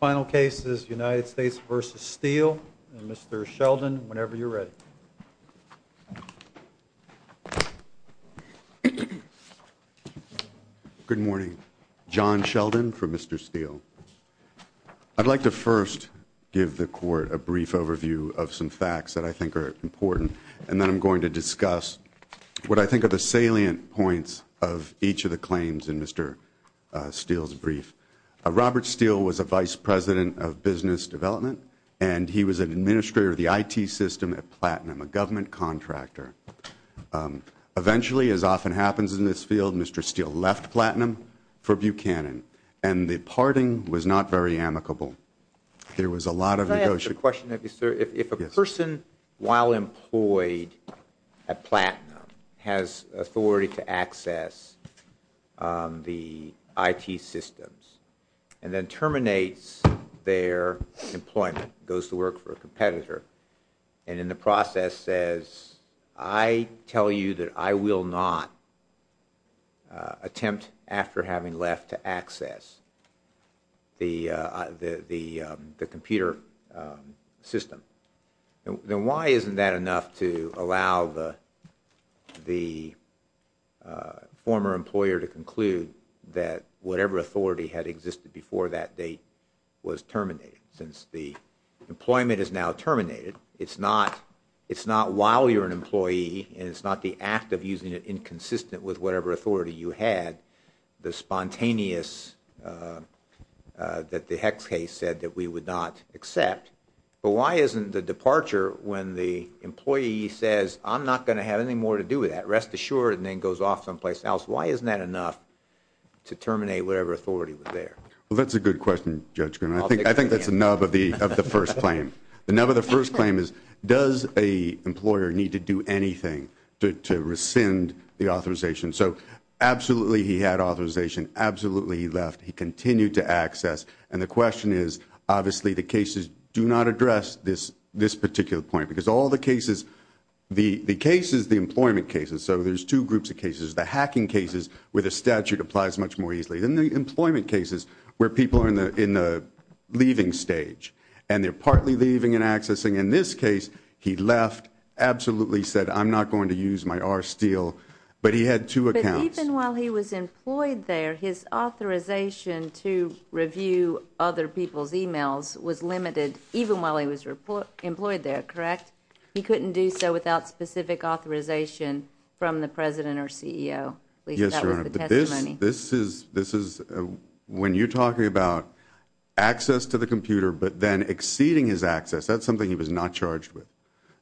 Final cases, United States v. Steele, and Mr. Sheldon, whenever you're ready. Good morning. John Sheldon for Mr. Steele. I'd like to first give the Court a brief overview of some facts that I think are important, and then I'm going to discuss what I think are the salient points of each of the claims in Mr. Steele's brief. Robert Steele was a vice president of business development, and he was an administrator of the IT system at Platinum, a government contractor. Eventually, as often happens in this field, Mr. Steele left Platinum for Buchanan, and the parting was not very amicable. There was a lot of negotiation. If a person, while employed at Platinum, has authority to access the IT systems and then terminates their employment, goes to work for a competitor, and in the process says, I tell you that I will not attempt, after having left, to access the computer system, then why isn't that enough to allow the former employer to conclude that whatever authority had existed before that date was terminated? Since the employment is now terminated, it's not while you're an employee, and it's not the act of using it inconsistent with whatever authority you had, the spontaneous that the Hex case said that we would not accept, but why isn't the departure when the employee says, I'm not going to have any more to do with that, rest assured, and then goes off someplace else, why isn't that enough to terminate whatever authority was there? Well, that's a good question, Judge Green. I think that's the nub of the first claim. The nub of the first claim is, does a employer need to do anything to rescind the authorization? So, absolutely, he had authorization. Absolutely, he left. He continued to access. And the question is, obviously, the cases do not address this particular point, because all the cases, the cases, the employment cases, so there's two groups of cases. There's the hacking cases, where the statute applies much more easily, and the employment cases, where people are in the leaving stage, and they're partly leaving and accessing. In this case, he left, absolutely said, I'm not going to use my R steel, but he had two accounts. But even while he was employed there, his authorization to review other people's emails was limited, even while he was employed there, correct? He couldn't do so without specific authorization from the president or CEO. Yes, Your Honor, but this is, when you're talking about access to the computer, but then exceeding his access, that's something he was not charged with.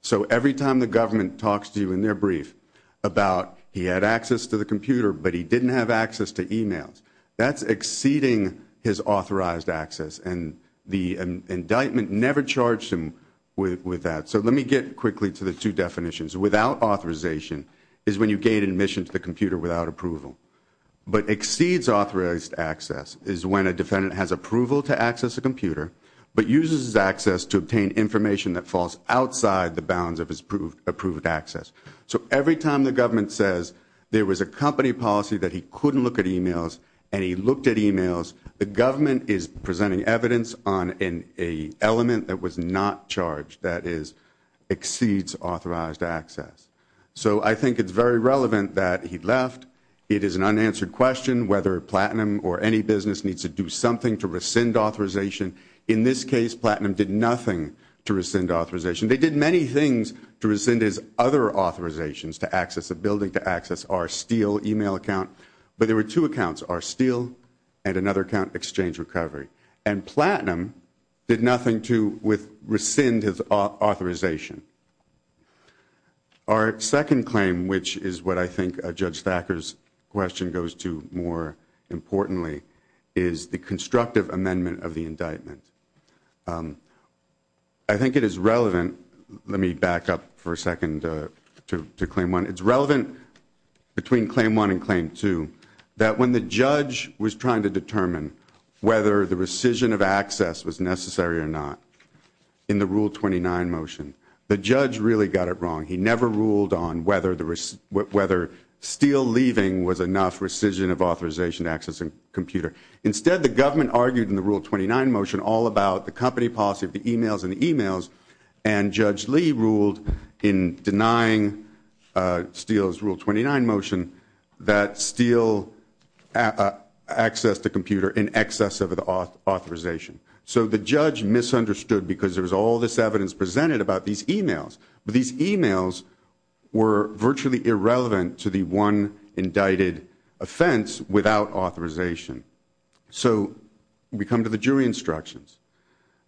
So every time the government talks to you in their brief about, he had access to the computer, but he didn't have access to emails, that's exceeding his authorized access, and the indictment never charged him with that. So let me get quickly to the two definitions. Without authorization is when you gain admission to the computer without approval. But exceeds authorized access is when a defendant has approval to access a computer, but uses his access to obtain information that falls outside the bounds of his approved access. So every time the government says there was a company policy that he couldn't look at emails, and he looked at emails, the government is presenting evidence on an element that was not charged, that is, exceeds authorized access. So I think it's very relevant that he left. It is an unanswered question whether Platinum or any business needs to do something to rescind authorization. In this case, Platinum did nothing to rescind authorization. They did many things to rescind his other authorizations to access a building, to access our Steele email account, but there were two accounts, our Steele and another account, Exchange Recovery. And Platinum did nothing to rescind his authorization. Our second claim, which is what I think Judge Thacker's question goes to more importantly, is the constructive amendment of the indictment. I think it is relevant, let me back up for a second to claim one. It's relevant between claim one and claim two that when the judge was trying to determine whether the rescission of access was necessary or not in the Rule 29 motion, the judge really got it wrong. He never ruled on whether Steele leaving was enough rescission of authorization to access a computer. Instead, the government argued in the Rule 29 motion all about the company policy of the emails and the emails, and Judge Lee ruled in denying Steele's Rule 29 motion that Steele accessed a computer in excess of authorization. So the judge misunderstood because there was all this evidence presented about these emails. But these emails were virtually irrelevant to the one indicted offense without authorization. So we come to the jury instructions.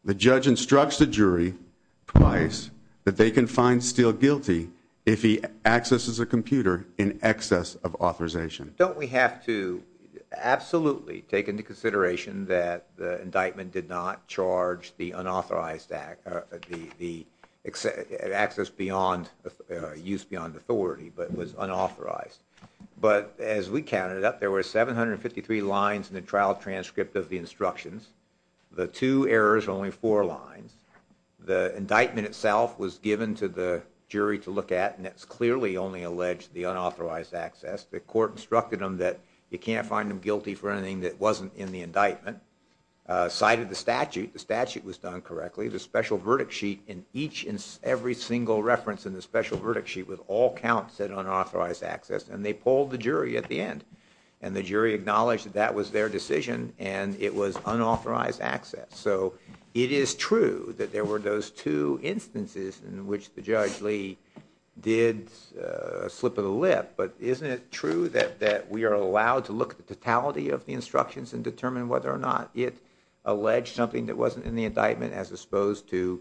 The judge instructs the jury twice that they can find Steele guilty if he accesses a computer in excess of authorization. Don't we have to absolutely take into consideration that the indictment did not charge the unauthorized access beyond, use beyond authority, but was unauthorized. But as we counted up, there were 753 lines in the trial transcript of the instructions. The two errors are only four lines. The indictment itself was given to the jury to look at, and it's clearly only alleged the unauthorized access. The court instructed them that you can't find them guilty for anything that wasn't in the indictment. Cited the statute. The statute was done correctly. The special verdict sheet in each and every single reference in the special verdict sheet with all counts said unauthorized access. And they polled the jury at the end. And the jury acknowledged that that was their decision and it was unauthorized access. So it is true that there were those two instances in which the judge Lee did slip of the lip. But isn't it true that that we are allowed to look at the totality of the instructions and determine whether or not it alleged something that wasn't in the indictment as opposed to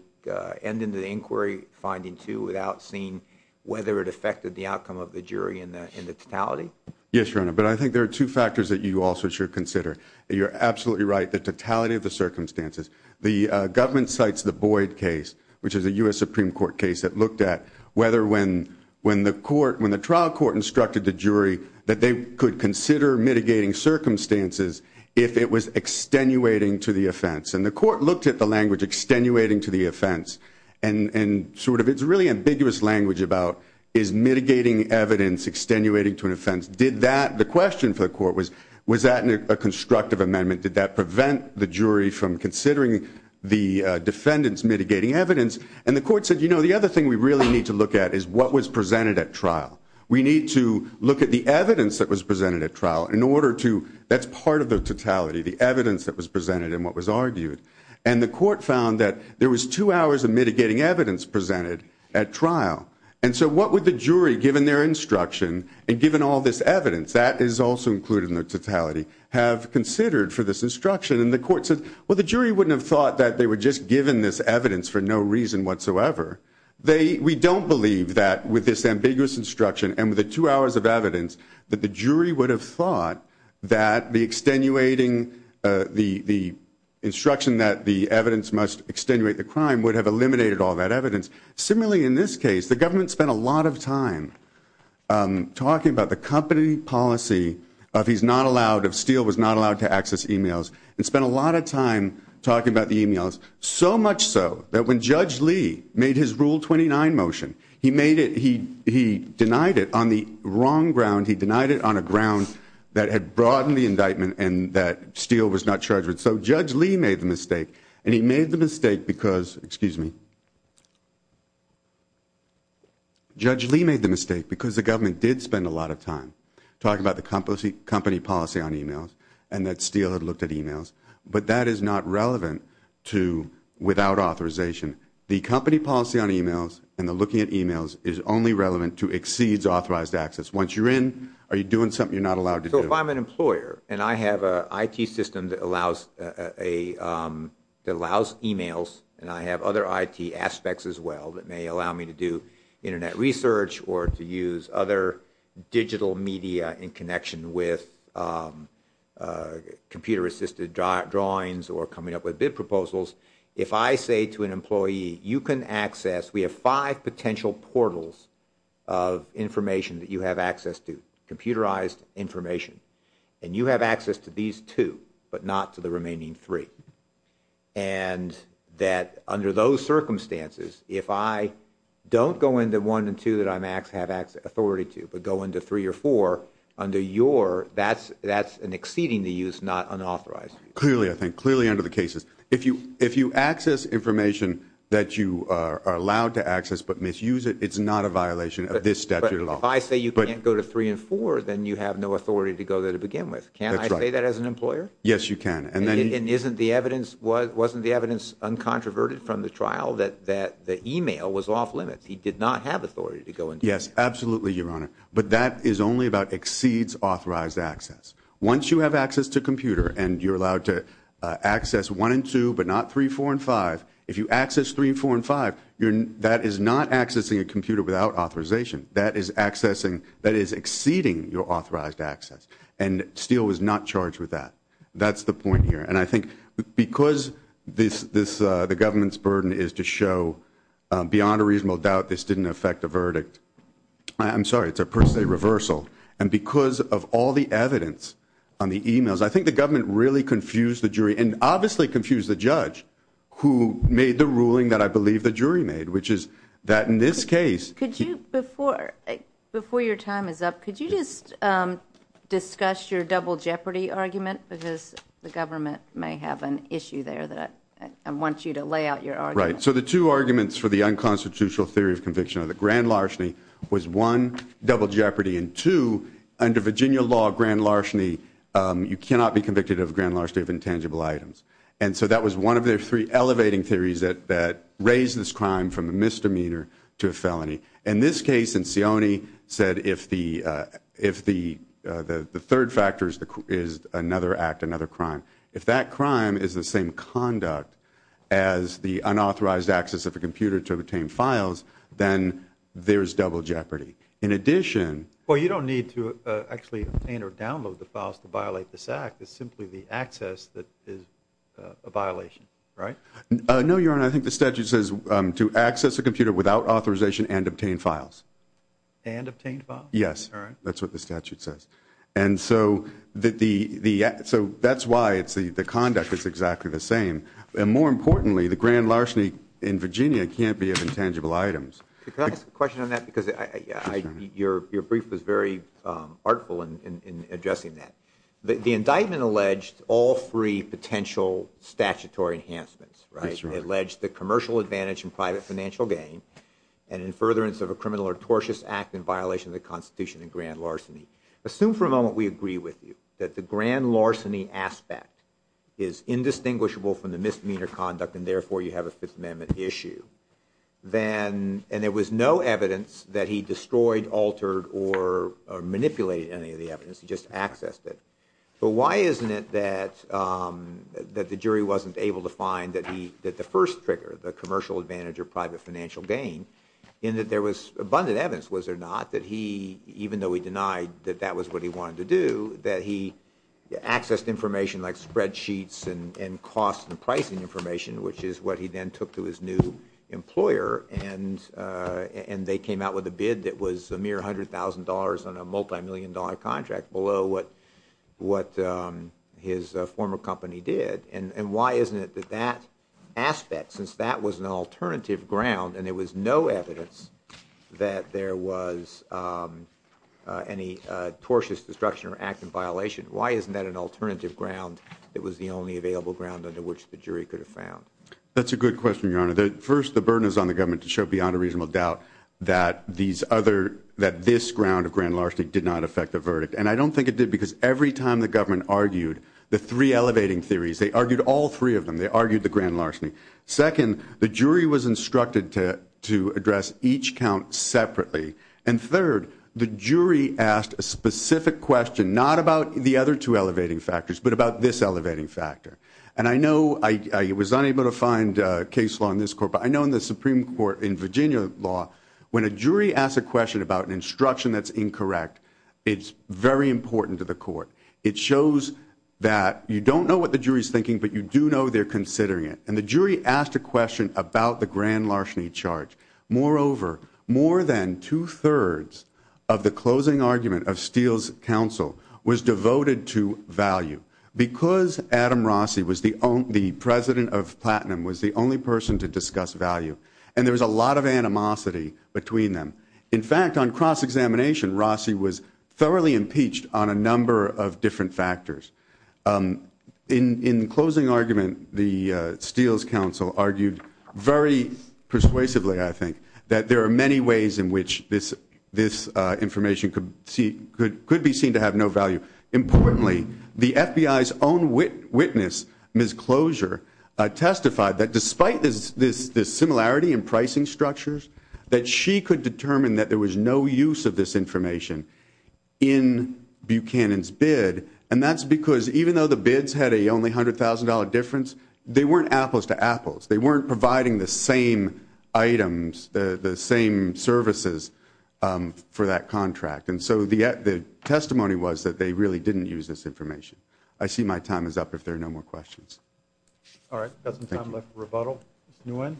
end in the inquiry finding two without seeing whether it affected the outcome of the jury in the totality. Yes, your honor. But I think there are two factors that you also should consider. You're absolutely right. The totality of the circumstances. The government cites the Boyd case, which is a U.S. Supreme Court case that looked at whether when when the court when the trial court instructed the jury that they could consider mitigating circumstances if it was extenuating to the offense. And the court looked at the language extenuating to the offense. And sort of it's really ambiguous language about is mitigating evidence extenuating to an offense. Did that the question for the court was, was that a constructive amendment? Did that prevent the jury from considering the defendants mitigating evidence? And the court said, you know, the other thing we really need to look at is what was presented at trial. We need to look at the evidence that was presented at trial in order to that's part of the totality, the evidence that was presented and what was argued. And the court found that there was two hours of mitigating evidence presented at trial. And so what would the jury given their instruction and given all this evidence that is also included in the totality have considered for this instruction? And the court said, well, the jury wouldn't have thought that they were just given this evidence for no reason whatsoever. We don't believe that with this ambiguous instruction and with the two hours of evidence that the jury would have thought that the extenuating, the instruction that the evidence must extenuate the crime would have eliminated all that evidence. Similarly, in this case, the government spent a lot of time talking about the company policy of he's not allowed, of Steele was not allowed to access e-mails. And spent a lot of time talking about the e-mails. So much so that when Judge Lee made his Rule 29 motion, he made it, he denied it on the wrong ground. He denied it on a ground that had broadened the indictment and that Steele was not charged with it. So Judge Lee made the mistake and he made the mistake because, excuse me. Judge Lee made the mistake because the government did spend a lot of time talking about the company policy on e-mails. And that Steele had looked at e-mails. But that is not relevant to without authorization. The company policy on e-mails and the looking at e-mails is only relevant to exceeds authorized access. Once you're in, are you doing something you're not allowed to do? If I'm an employer and I have an IT system that allows e-mails and I have other IT aspects as well that may allow me to do internet research or to use other digital media in connection with computer assisted drawings or coming up with bid proposals. If I say to an employee, you can access, we have five potential portals of information that you have access to, computerized information. And you have access to these two, but not to the remaining three. And that under those circumstances, if I don't go into one and two that I have authority to, but go into three or four under your, that's an exceeding the use, not unauthorized. Clearly I think, clearly under the cases. If you access information that you are allowed to access but misuse it, it's not a violation of this statute of law. But if I say you can't go to three and four, then you have no authority to go there to begin with. That's right. Can I say that as an employer? Yes, you can. And isn't the evidence, wasn't the evidence uncontroverted from the trial that the e-mail was off limits? He did not have authority to go into that. Yes, absolutely, Your Honor. But that is only about exceeds authorized access. Once you have access to a computer and you're allowed to access one and two, but not three, four, and five. If you access three, four, and five, that is not accessing a computer without authorization. That is accessing, that is exceeding your authorized access. And Steele was not charged with that. That's the point here. And I think because this, the government's burden is to show beyond a reasonable doubt this didn't affect the verdict. I'm sorry, it's a per se reversal. And because of all the evidence on the e-mails, I think the government really confused the jury. And obviously confused the judge who made the ruling that I believe the jury made, which is that in this case. Could you, before, before your time is up, could you just discuss your double jeopardy argument? Because the government may have an issue there that I want you to lay out your argument. Right. So the two arguments for the unconstitutional theory of conviction are that Grand Larseny was one, double jeopardy. And two, under Virginia law, Grand Larseny, you cannot be convicted of Grand Larseny of intangible items. And so that was one of their three elevating theories that raised this crime from a misdemeanor to a felony. In this case, Insioni said if the third factor is another act, another crime. If that crime is the same conduct as the unauthorized access of a computer to obtain files, then there's double jeopardy. In addition. Well, you don't need to actually obtain or download the files to violate this act. It's simply the access that is a violation. Right? No, Your Honor. I think the statute says to access a computer without authorization and obtain files. And obtain files? Yes. All right. That's what the statute says. And so that's why the conduct is exactly the same. And more importantly, the Grand Larseny in Virginia can't be of intangible items. Can I ask a question on that? Because your brief was very artful in addressing that. The indictment alleged all three potential statutory enhancements, right? It alleged the commercial advantage and private financial gain, and in furtherance of a criminal or tortious act in violation of the Constitution and Grand Larseny. Assume for a moment we agree with you that the Grand Larseny aspect is indistinguishable from the misdemeanor conduct and therefore you have a Fifth Amendment issue. And there was no evidence that he destroyed, altered, or manipulated any of the evidence. He just accessed it. But why isn't it that the jury wasn't able to find that the first trigger, the commercial advantage or private financial gain, in that there was abundant evidence, was there not, that he, even though he denied that that was what he wanted to do, that he accessed information like spreadsheets and cost and pricing information, which is what he then took to his new employer, and they came out with a bid that was a mere $100,000 on a multimillion dollar contract, below what his former company did. And why isn't it that that aspect, since that was an alternative ground, and there was no evidence that there was any tortious destruction or act in violation, why isn't that an alternative ground that was the only available ground under which the jury could have found? That's a good question, Your Honor. First, the burden is on the government to show beyond a reasonable doubt that this ground of Grand Larseny did not affect the verdict. And I don't think it did because every time the government argued the three elevating theories, they argued all three of them, they argued the Grand Larseny. Second, the jury was instructed to address each count separately. And third, the jury asked a specific question, not about the other two elevating factors, but about this elevating factor. And I know I was unable to find case law in this court, but I know in the Supreme Court in Virginia law, when a jury asks a question about an instruction that's incorrect, it's very important to the court. It shows that you don't know what the jury's thinking, but you do know they're considering it. And the jury asked a question about the Grand Larseny charge. Moreover, more than two-thirds of the closing argument of Steele's counsel was devoted to value. Because Adam Rossi, the president of Platinum, was the only person to discuss value, and there was a lot of animosity between them. In fact, on cross-examination, Rossi was thoroughly impeached on a number of different factors. In the closing argument, the Steele's counsel argued very persuasively, I think, that there are many ways in which this information could be seen to have no value. Importantly, the FBI's own witness, Ms. Closure, testified that despite this similarity in pricing structures, that she could determine that there was no use of this information in Buchanan's bid. And that's because even though the bids had a only $100,000 difference, they weren't apples to apples. They weren't providing the same items, the same services for that contract. And so the testimony was that they really didn't use this information. I see my time is up if there are no more questions. All right, we've got some time left for rebuttal. Mr. Nguyen?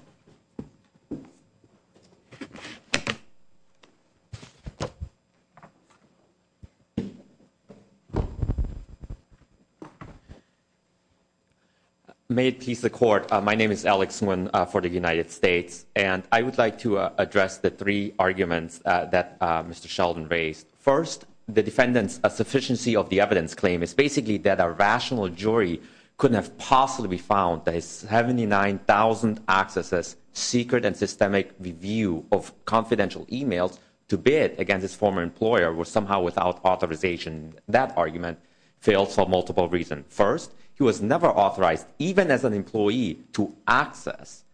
May it please the Court, my name is Alex Nguyen for the United States, and I would like to address the three arguments that Mr. Sheldon raised. First, the defendant's sufficiency of the evidence claim is basically that a rational jury couldn't have possibly found that his 79,000 accesses, secret and systemic review of confidential emails to bid against his former employer were somehow without authorization. That argument failed for multiple reasons. First, he was never authorized, even as an employee, to access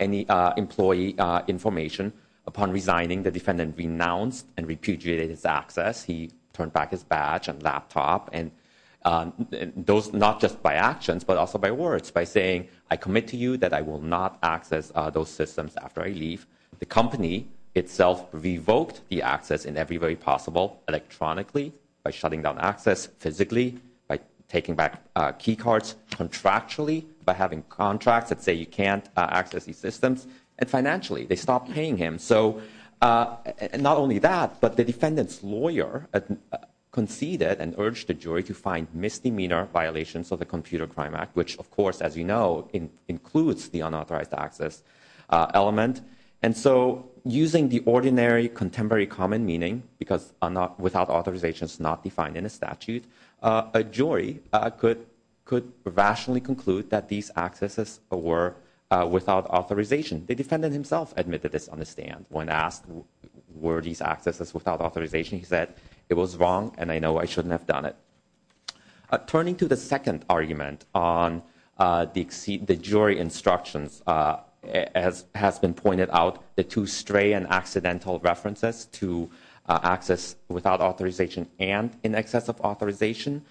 any employee information. Upon resigning, the defendant renounced and repudiated his access. He turned back his badge and laptop, and those not just by actions but also by words, by saying, I commit to you that I will not access those systems after I leave. The company itself revoked the access in every way possible, electronically, by shutting down access, physically, by taking back key cards, contractually, by having contracts that say you can't access these systems, and financially, they stopped paying him. So not only that, but the defendant's lawyer conceded and urged the jury to find misdemeanor violations of the Computer Crime Act, which, of course, as you know, includes the unauthorized access element. And so using the ordinary contemporary common meaning, because without authorization is not defined in a statute, a jury could rationally conclude that these accesses were without authorization. The defendant himself admitted this on the stand. When asked were these accesses without authorization, he said, it was wrong, and I know I shouldn't have done it. Turning to the second argument on the jury instructions, as has been pointed out, the two stray and accidental references to access without authorization and in excess of authorization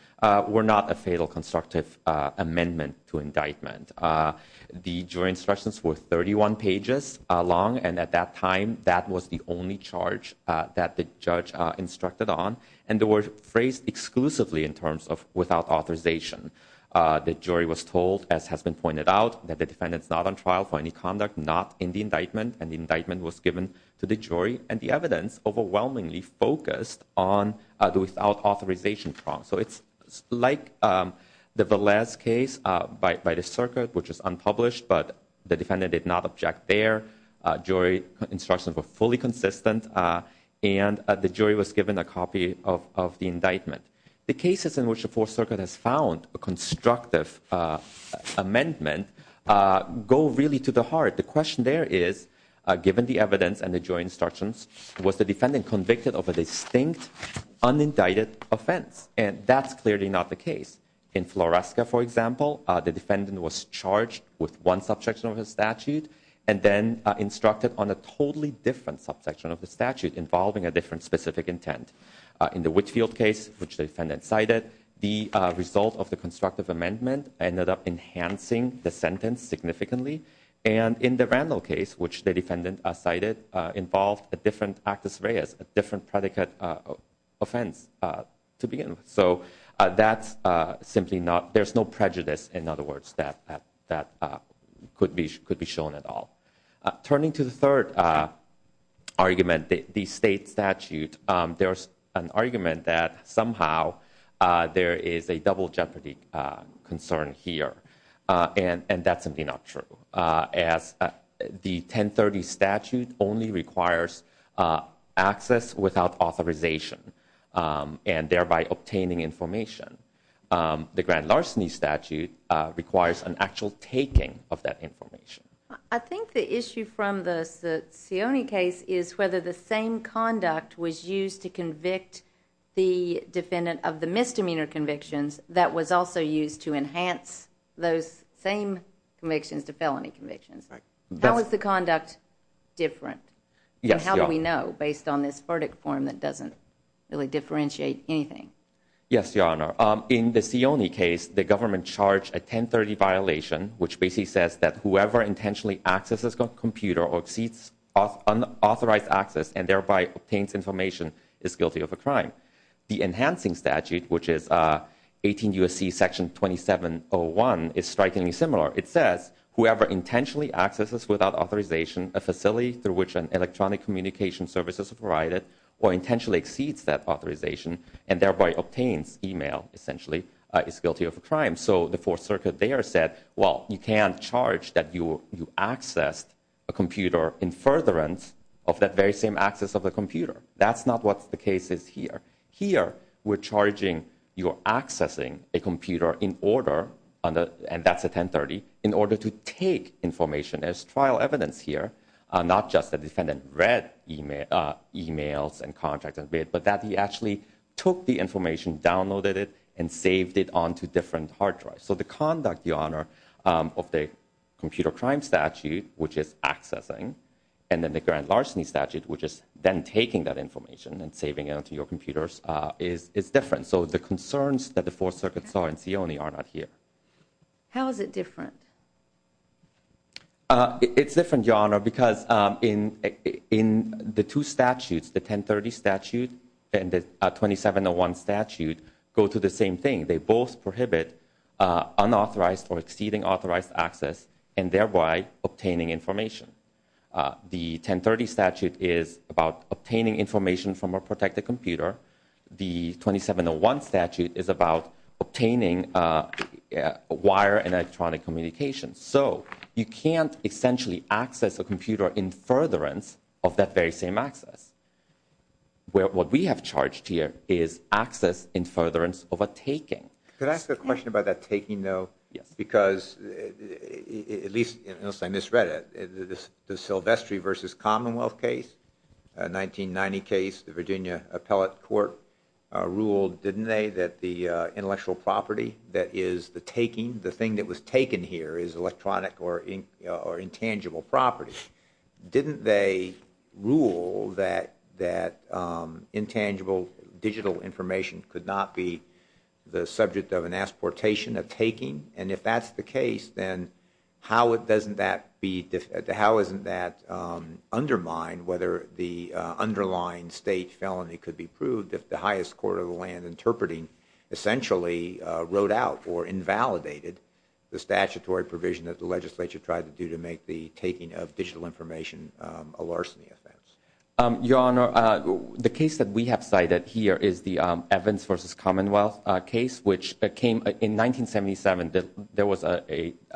were not a fatal constructive amendment to indictment. The jury instructions were 31 pages long, and at that time, that was the only charge that the judge instructed on, and they were phrased exclusively in terms of without authorization. The jury was told, as has been pointed out, that the defendant's not on trial for any conduct not in the indictment, and the indictment was given to the jury, and the evidence overwhelmingly focused on the without authorization problem. So it's like the Velez case by the circuit, which was unpublished, but the defendant did not object there. Jury instructions were fully consistent, and the jury was given a copy of the indictment. The cases in which the Fourth Circuit has found a constructive amendment go really to the heart. The question there is, given the evidence and the jury instructions, was the defendant convicted of a distinct, unindicted offense? And that's clearly not the case. In Floresca, for example, the defendant was charged with one subsection of his statute and then instructed on a totally different subsection of the statute involving a different specific intent. In the Whitfield case, which the defendant cited, the result of the constructive amendment ended up enhancing the sentence significantly. And in the Randall case, which the defendant cited, involved a different actus reus, a different predicate offense to begin with. So there's no prejudice, in other words, that could be shown at all. Turning to the third argument, the state statute, there's an argument that somehow there is a double jeopardy concern here, and that's simply not true, as the 1030 statute only requires access without authorization, and thereby obtaining information. The grand larceny statute requires an actual taking of that information. I think the issue from the Sioni case is whether the same conduct was used to convict the defendant of the misdemeanor convictions that was also used to enhance those same convictions to felony convictions. How is the conduct different? And how do we know, based on this verdict form that doesn't really differentiate anything? Yes, Your Honor. In the Sioni case, the government charged a 1030 violation, which basically says that whoever intentionally accesses a computer or exceeds unauthorized access and thereby obtains information is guilty of a crime. The enhancing statute, which is 18 U.S.C. Section 2701, is strikingly similar. It says, whoever intentionally accesses without authorization a facility through which electronic communication services are provided or intentionally exceeds that authorization and thereby obtains email, essentially, is guilty of a crime. So the Fourth Circuit there said, well, you can't charge that you accessed a computer in furtherance of that very same access of the computer. That's not what the case is here. Here, we're charging you're accessing a computer in order, and that's a 1030, in order to take information as trial evidence here, not just the defendant read emails and contacts, but that he actually took the information, downloaded it, and saved it onto different hard drives. So the conduct, Your Honor, of the computer crime statute, which is accessing, and then the grand larceny statute, which is then taking that information and saving it onto your computers, is different. So the concerns that the Fourth Circuit saw in Sioni are not here. How is it different? It's different, Your Honor, because in the two statutes, the 1030 statute and the 2701 statute, go to the same thing. They both prohibit unauthorized or exceeding authorized access and thereby obtaining information. The 1030 statute is about obtaining information from a protected computer. The 2701 statute is about obtaining wire and electronic communications. So you can't essentially access a computer in furtherance of that very same access. What we have charged here is access in furtherance of a taking. Could I ask a question about that taking, though? Yes. Because, at least unless I misread it, the Silvestri v. Commonwealth case, a 1990 case, the Virginia Appellate Court ruled, didn't they, that the intellectual property that is the taking, the thing that was taken here is electronic or intangible property. Didn't they rule that intangible digital information could not be the subject of an exportation, a taking? And if that's the case, then how doesn't that undermine whether the underlying state felony could be proved if the highest court of the land interpreting essentially wrote out or invalidated the statutory provision that the legislature tried to do to make the taking of digital information a larceny offense? Your Honor, the case that we have cited here is the Evans v. Commonwealth case, which came in 1977. There was a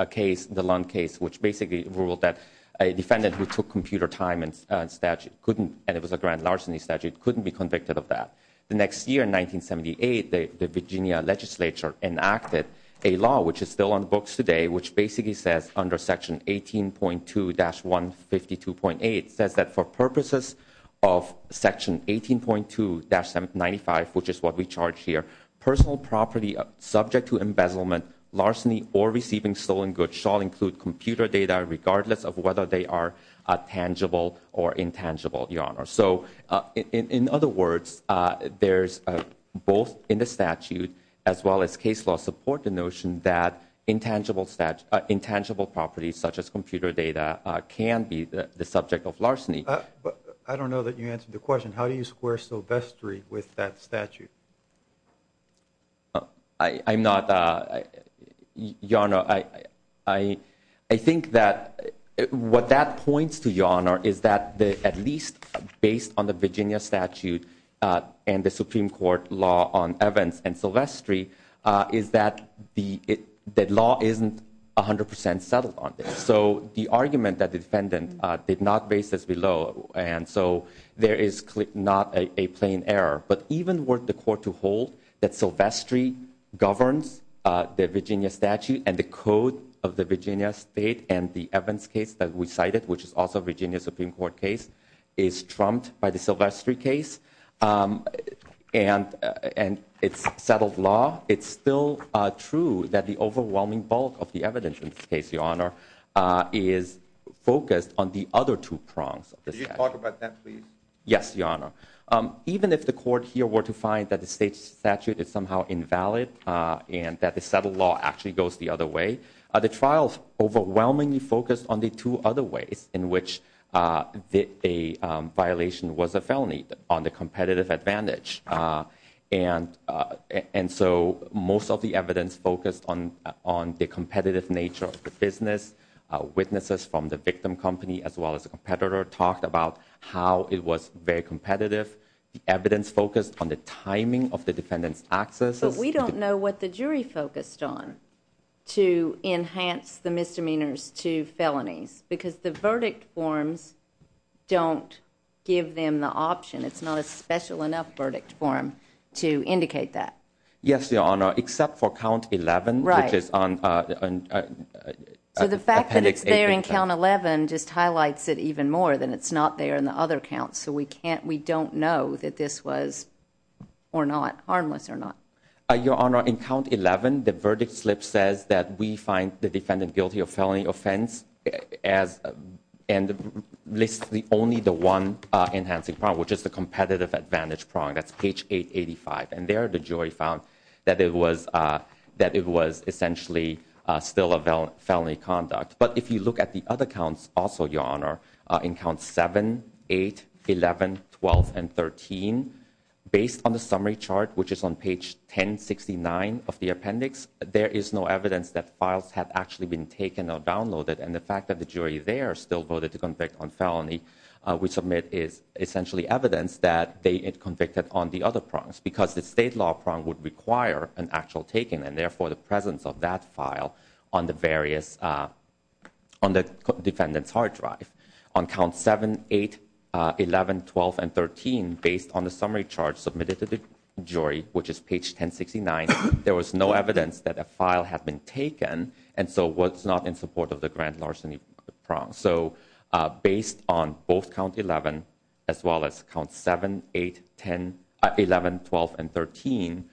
case, the Lund case, which basically ruled that a defendant who took computer time and it was a grand larceny statute couldn't be convicted of that. The next year, 1978, the Virginia legislature enacted a law, which is still on books today, which basically says under Section 18.2-152.8, says that for purposes of Section 18.2-95, which is what we charge here, personal property subject to embezzlement, larceny, or receiving stolen goods shall include computer data regardless of whether they are tangible or intangible, Your Honor. So in other words, there's both in the statute as well as case law support the notion that intangible properties such as computer data can be the subject of larceny. I don't know that you answered the question. How do you square Silvestri with that statute? I'm not, Your Honor. I think that what that points to, Your Honor, is that at least based on the Virginia statute and the Supreme Court law on Evans and Silvestri, is that the law isn't 100 percent settled on this. So the argument that the defendant did not base this below, and so there is not a plain error. But even were the court to hold that Silvestri governs the Virginia statute and the code of the Virginia state and the Evans case that we cited, which is also a Virginia Supreme Court case, is trumped by the Silvestri case and it's settled law, it's still true that the overwhelming bulk of the evidence in this case, Your Honor, is focused on the other two prongs. Could you talk about that, please? Yes, Your Honor. Even if the court here were to find that the state statute is somehow invalid and that the settled law actually goes the other way, the trial overwhelmingly focused on the two other ways in which a violation was a felony on the competitive advantage. And so most of the evidence focused on the competitive nature of the business. Witnesses from the victim company as well as the competitor talked about how it was very competitive. The evidence focused on the timing of the defendant's accesses. But we don't know what the jury focused on to enhance the misdemeanors to felonies because the verdict forms don't give them the option. It's not a special enough verdict form to indicate that. Yes, Your Honor, except for count 11, which is on... So the fact that it's there in count 11 just highlights it even more than it's not there in the other counts. So we don't know that this was harmless or not. Your Honor, in count 11, the verdict slip says that we find the defendant guilty of felony offense and lists only the one enhancing prong, which is the competitive advantage prong. That's page 885. And there the jury found that it was essentially still a felony conduct. But if you look at the other counts also, Your Honor, in count 7, 8, 11, 12, and 13, based on the summary chart, which is on page 1069 of the appendix, there is no evidence that files have actually been taken or downloaded. And the fact that the jury there still voted to convict on felony we submit is essentially evidence that they had convicted on the other prongs because the state law prong would require an actual taking and therefore the presence of that file on the various, on the defendant's hard drive. On count 7, 8, 11, 12, and 13, based on the summary chart submitted to the jury, which is page 1069, there was no evidence that a file had been taken and so was not in support of the grand larceny prong. So based on both count 11 as well as count 7, 8, 10, 11, 12, and 13,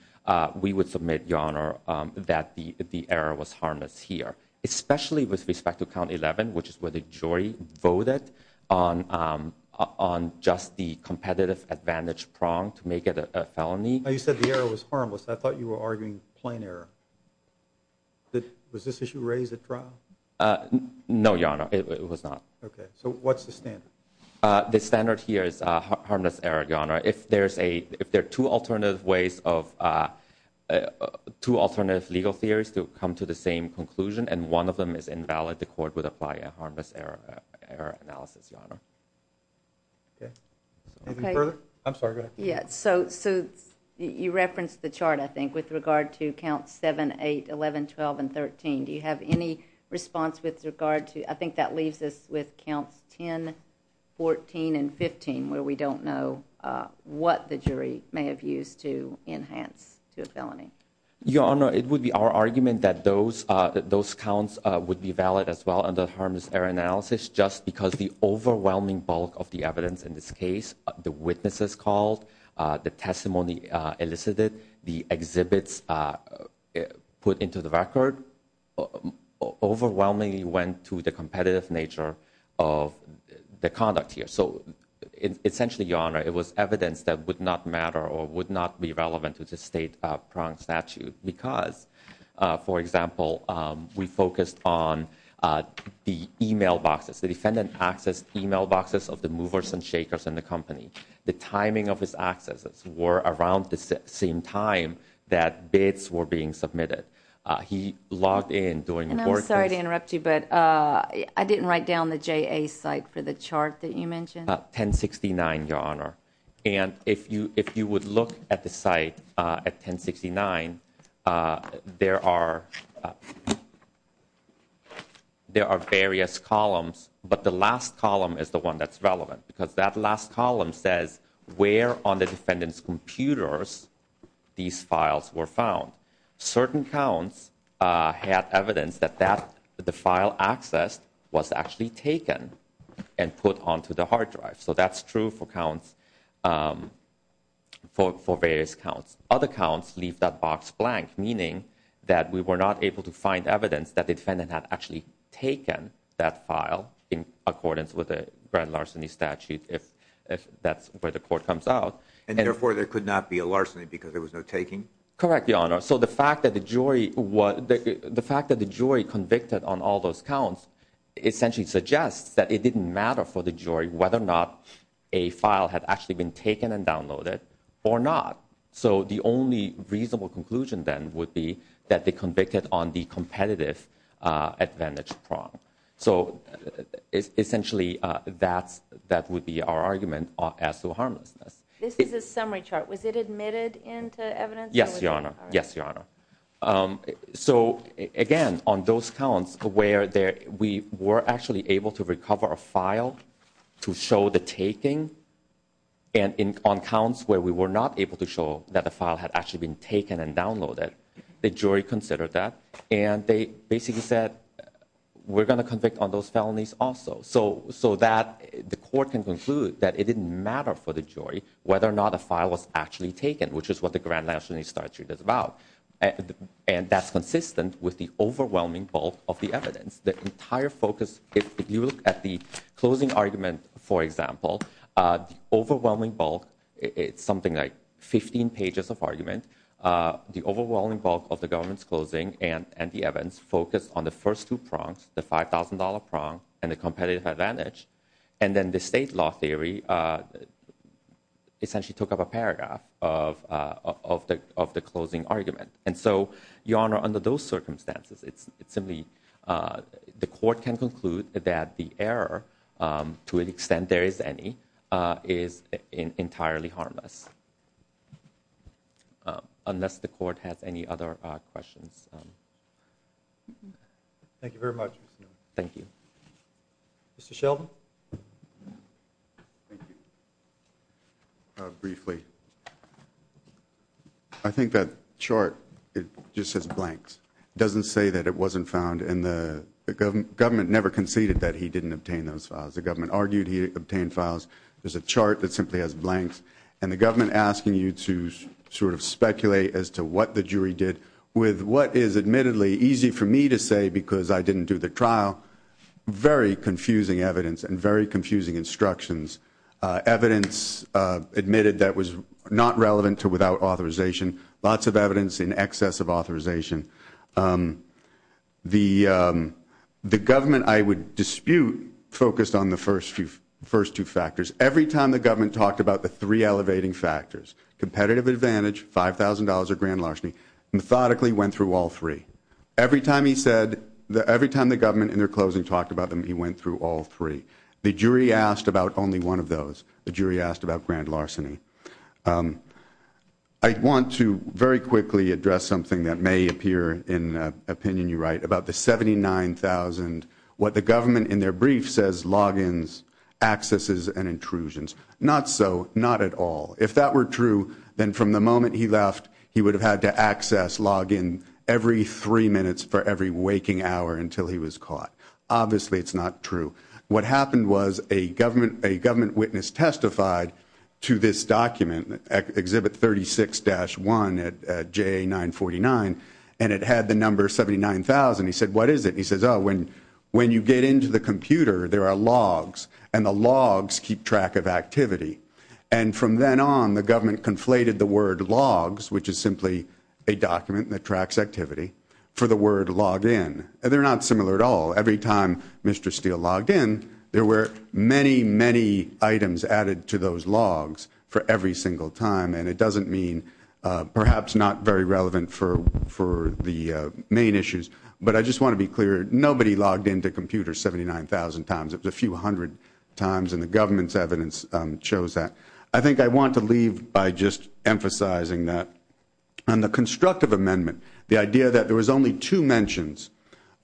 we would submit, Your Honor, that the error was harmless here, especially with respect to count 11, which is where the jury voted on just the competitive advantage prong to make it a felony. You said the error was harmless. I thought you were arguing plain error. Was this issue raised at trial? No, Your Honor. It was not. Okay. So what's the standard? The standard here is harmless error, Your Honor. If there are two alternative ways of, two alternative legal theories to come to the same conclusion and one of them is invalid, the court would apply a harmless error analysis, Your Honor. Okay. Anything further? I'm sorry. Go ahead. Yeah. So you referenced the chart, I think, with regard to count 7, 8, 11, 12, and 13. Do you have any response with regard to, I think that leaves us with counts 10, 14, and 15, where we don't know what the jury may have used to enhance to a felony? Your Honor, it would be our argument that those counts would be valid as well under harmless error analysis just because the overwhelming bulk of the evidence in this case, the witnesses called, the testimony elicited, the exhibits put into the record, overwhelmingly went to the competitive nature of the conduct here. So essentially, Your Honor, it was evidence that would not matter or would not be relevant to the state prong statute because, for example, we focused on the e-mail boxes, the defendant accessed e-mail boxes of the movers and shakers in the company. The timing of his accesses were around the same time that bids were being submitted. He logged in during the board test. And I'm sorry to interrupt you, but I didn't write down the JA site for the chart that you mentioned. 1069, Your Honor. And if you would look at the site at 1069, there are various columns, but the last column is the one that's relevant because that last column says where on the defendant's computers these files were found. Certain counts had evidence that the file accessed was actually taken and put onto the hard drive. So that's true for various counts. Other counts leave that box blank, meaning that we were not able to find evidence that the defendant had actually taken that file in accordance with the grand larceny statute if that's where the court comes out. And therefore there could not be a larceny because there was no taking? Correct, Your Honor. So the fact that the jury convicted on all those counts essentially suggests that it didn't matter for the jury whether or not a file had actually been taken and downloaded or not. So the only reasonable conclusion then would be that they convicted on the competitive advantage prong. So essentially that would be our argument as to harmlessness. This is a summary chart. Was it admitted into evidence? Yes, Your Honor. Yes, Your Honor. So again, on those counts where we were actually able to recover a file to show the taking and on counts where we were not able to show that the file had actually been taken and downloaded, the jury considered that and they basically said we're going to convict on those felonies also. So that the court can conclude that it didn't matter for the jury whether or not a file was actually taken, which is what the grand larceny statute is about. And that's consistent with the overwhelming bulk of the evidence. The entire focus, if you look at the closing argument, for example, the overwhelming bulk, it's something like 15 pages of argument, the overwhelming bulk of the government's closing and the evidence focused on the first two prongs, the $5,000 prong and the competitive advantage. And then the state law theory essentially took up a paragraph of the closing argument. And so, Your Honor, under those circumstances, it's simply the court can conclude that the error, to an extent there is any, is entirely harmless. Unless the court has any other questions. Thank you very much, Mr. Nguyen. Thank you. Mr. Sheldon. Thank you. Briefly, I think that chart, it just says blanks. It doesn't say that it wasn't found and the government never conceded that he didn't obtain those files. The government argued he obtained files. There's a chart that simply has blanks. And the government asking you to sort of speculate as to what the jury did with what is admittedly easy for me to say because I didn't do the trial. Very confusing evidence and very confusing instructions. Evidence admitted that was not relevant to without authorization. Lots of evidence in excess of authorization. The government, I would dispute, focused on the first two factors. Every time the government talked about the three elevating factors, competitive advantage, $5,000 or grand larceny, methodically went through all three. Every time he said, every time the government in their closing talked about them, he went through all three. The jury asked about only one of those. The jury asked about grand larceny. I want to very quickly address something that may appear in an opinion you write about the $79,000, what the government in their brief says logins, accesses, and intrusions. Not so, not at all. If that were true, then from the moment he left, he would have had to access, log in, every three minutes for every waking hour until he was caught. Obviously, it's not true. What happened was a government witness testified to this document, Exhibit 36-1 at JA 949, and it had the number 79,000. He said, what is it? He says, oh, when you get into the computer, there are logs, and the logs keep track of activity. And from then on, the government conflated the word logs, which is simply a document that tracks activity, for the word log in. They're not similar at all. Every time Mr. Steele logged in, there were many, many items added to those logs for every single time, and it doesn't mean perhaps not very relevant for the main issues. But I just want to be clear, nobody logged into computers 79,000 times. It was a few hundred times, and the government's evidence shows that. I think I want to leave by just emphasizing that on the constructive amendment, the idea that there was only two mentions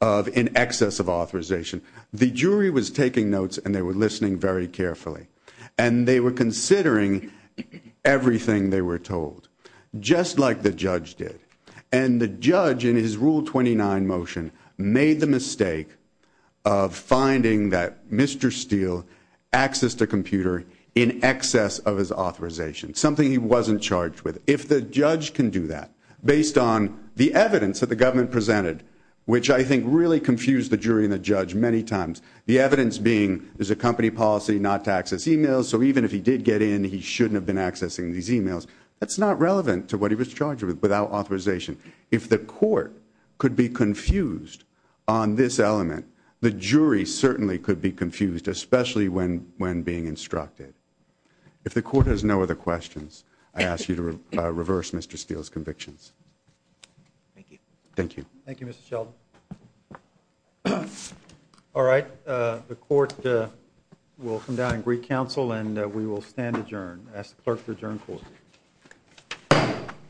of in excess of authorization. The jury was taking notes, and they were listening very carefully, and they were considering everything they were told, just like the judge did. And the judge, in his Rule 29 motion, made the mistake of finding that Mr. Steele accessed a computer in excess of his authorization, something he wasn't charged with. If the judge can do that, based on the evidence that the government presented, which I think really confused the jury and the judge many times, the evidence being there's a company policy not to access e-mails, so even if he did get in, he shouldn't have been accessing these e-mails. That's not relevant to what he was charged with without authorization. If the court could be confused on this element, the jury certainly could be confused, especially when being instructed. If the court has no other questions, I ask you to reverse Mr. Steele's convictions. Thank you. Thank you. Thank you, Mr. Sheldon. All right. The court will come down and greet counsel, and we will stand adjourned. I ask the clerk to adjourn court.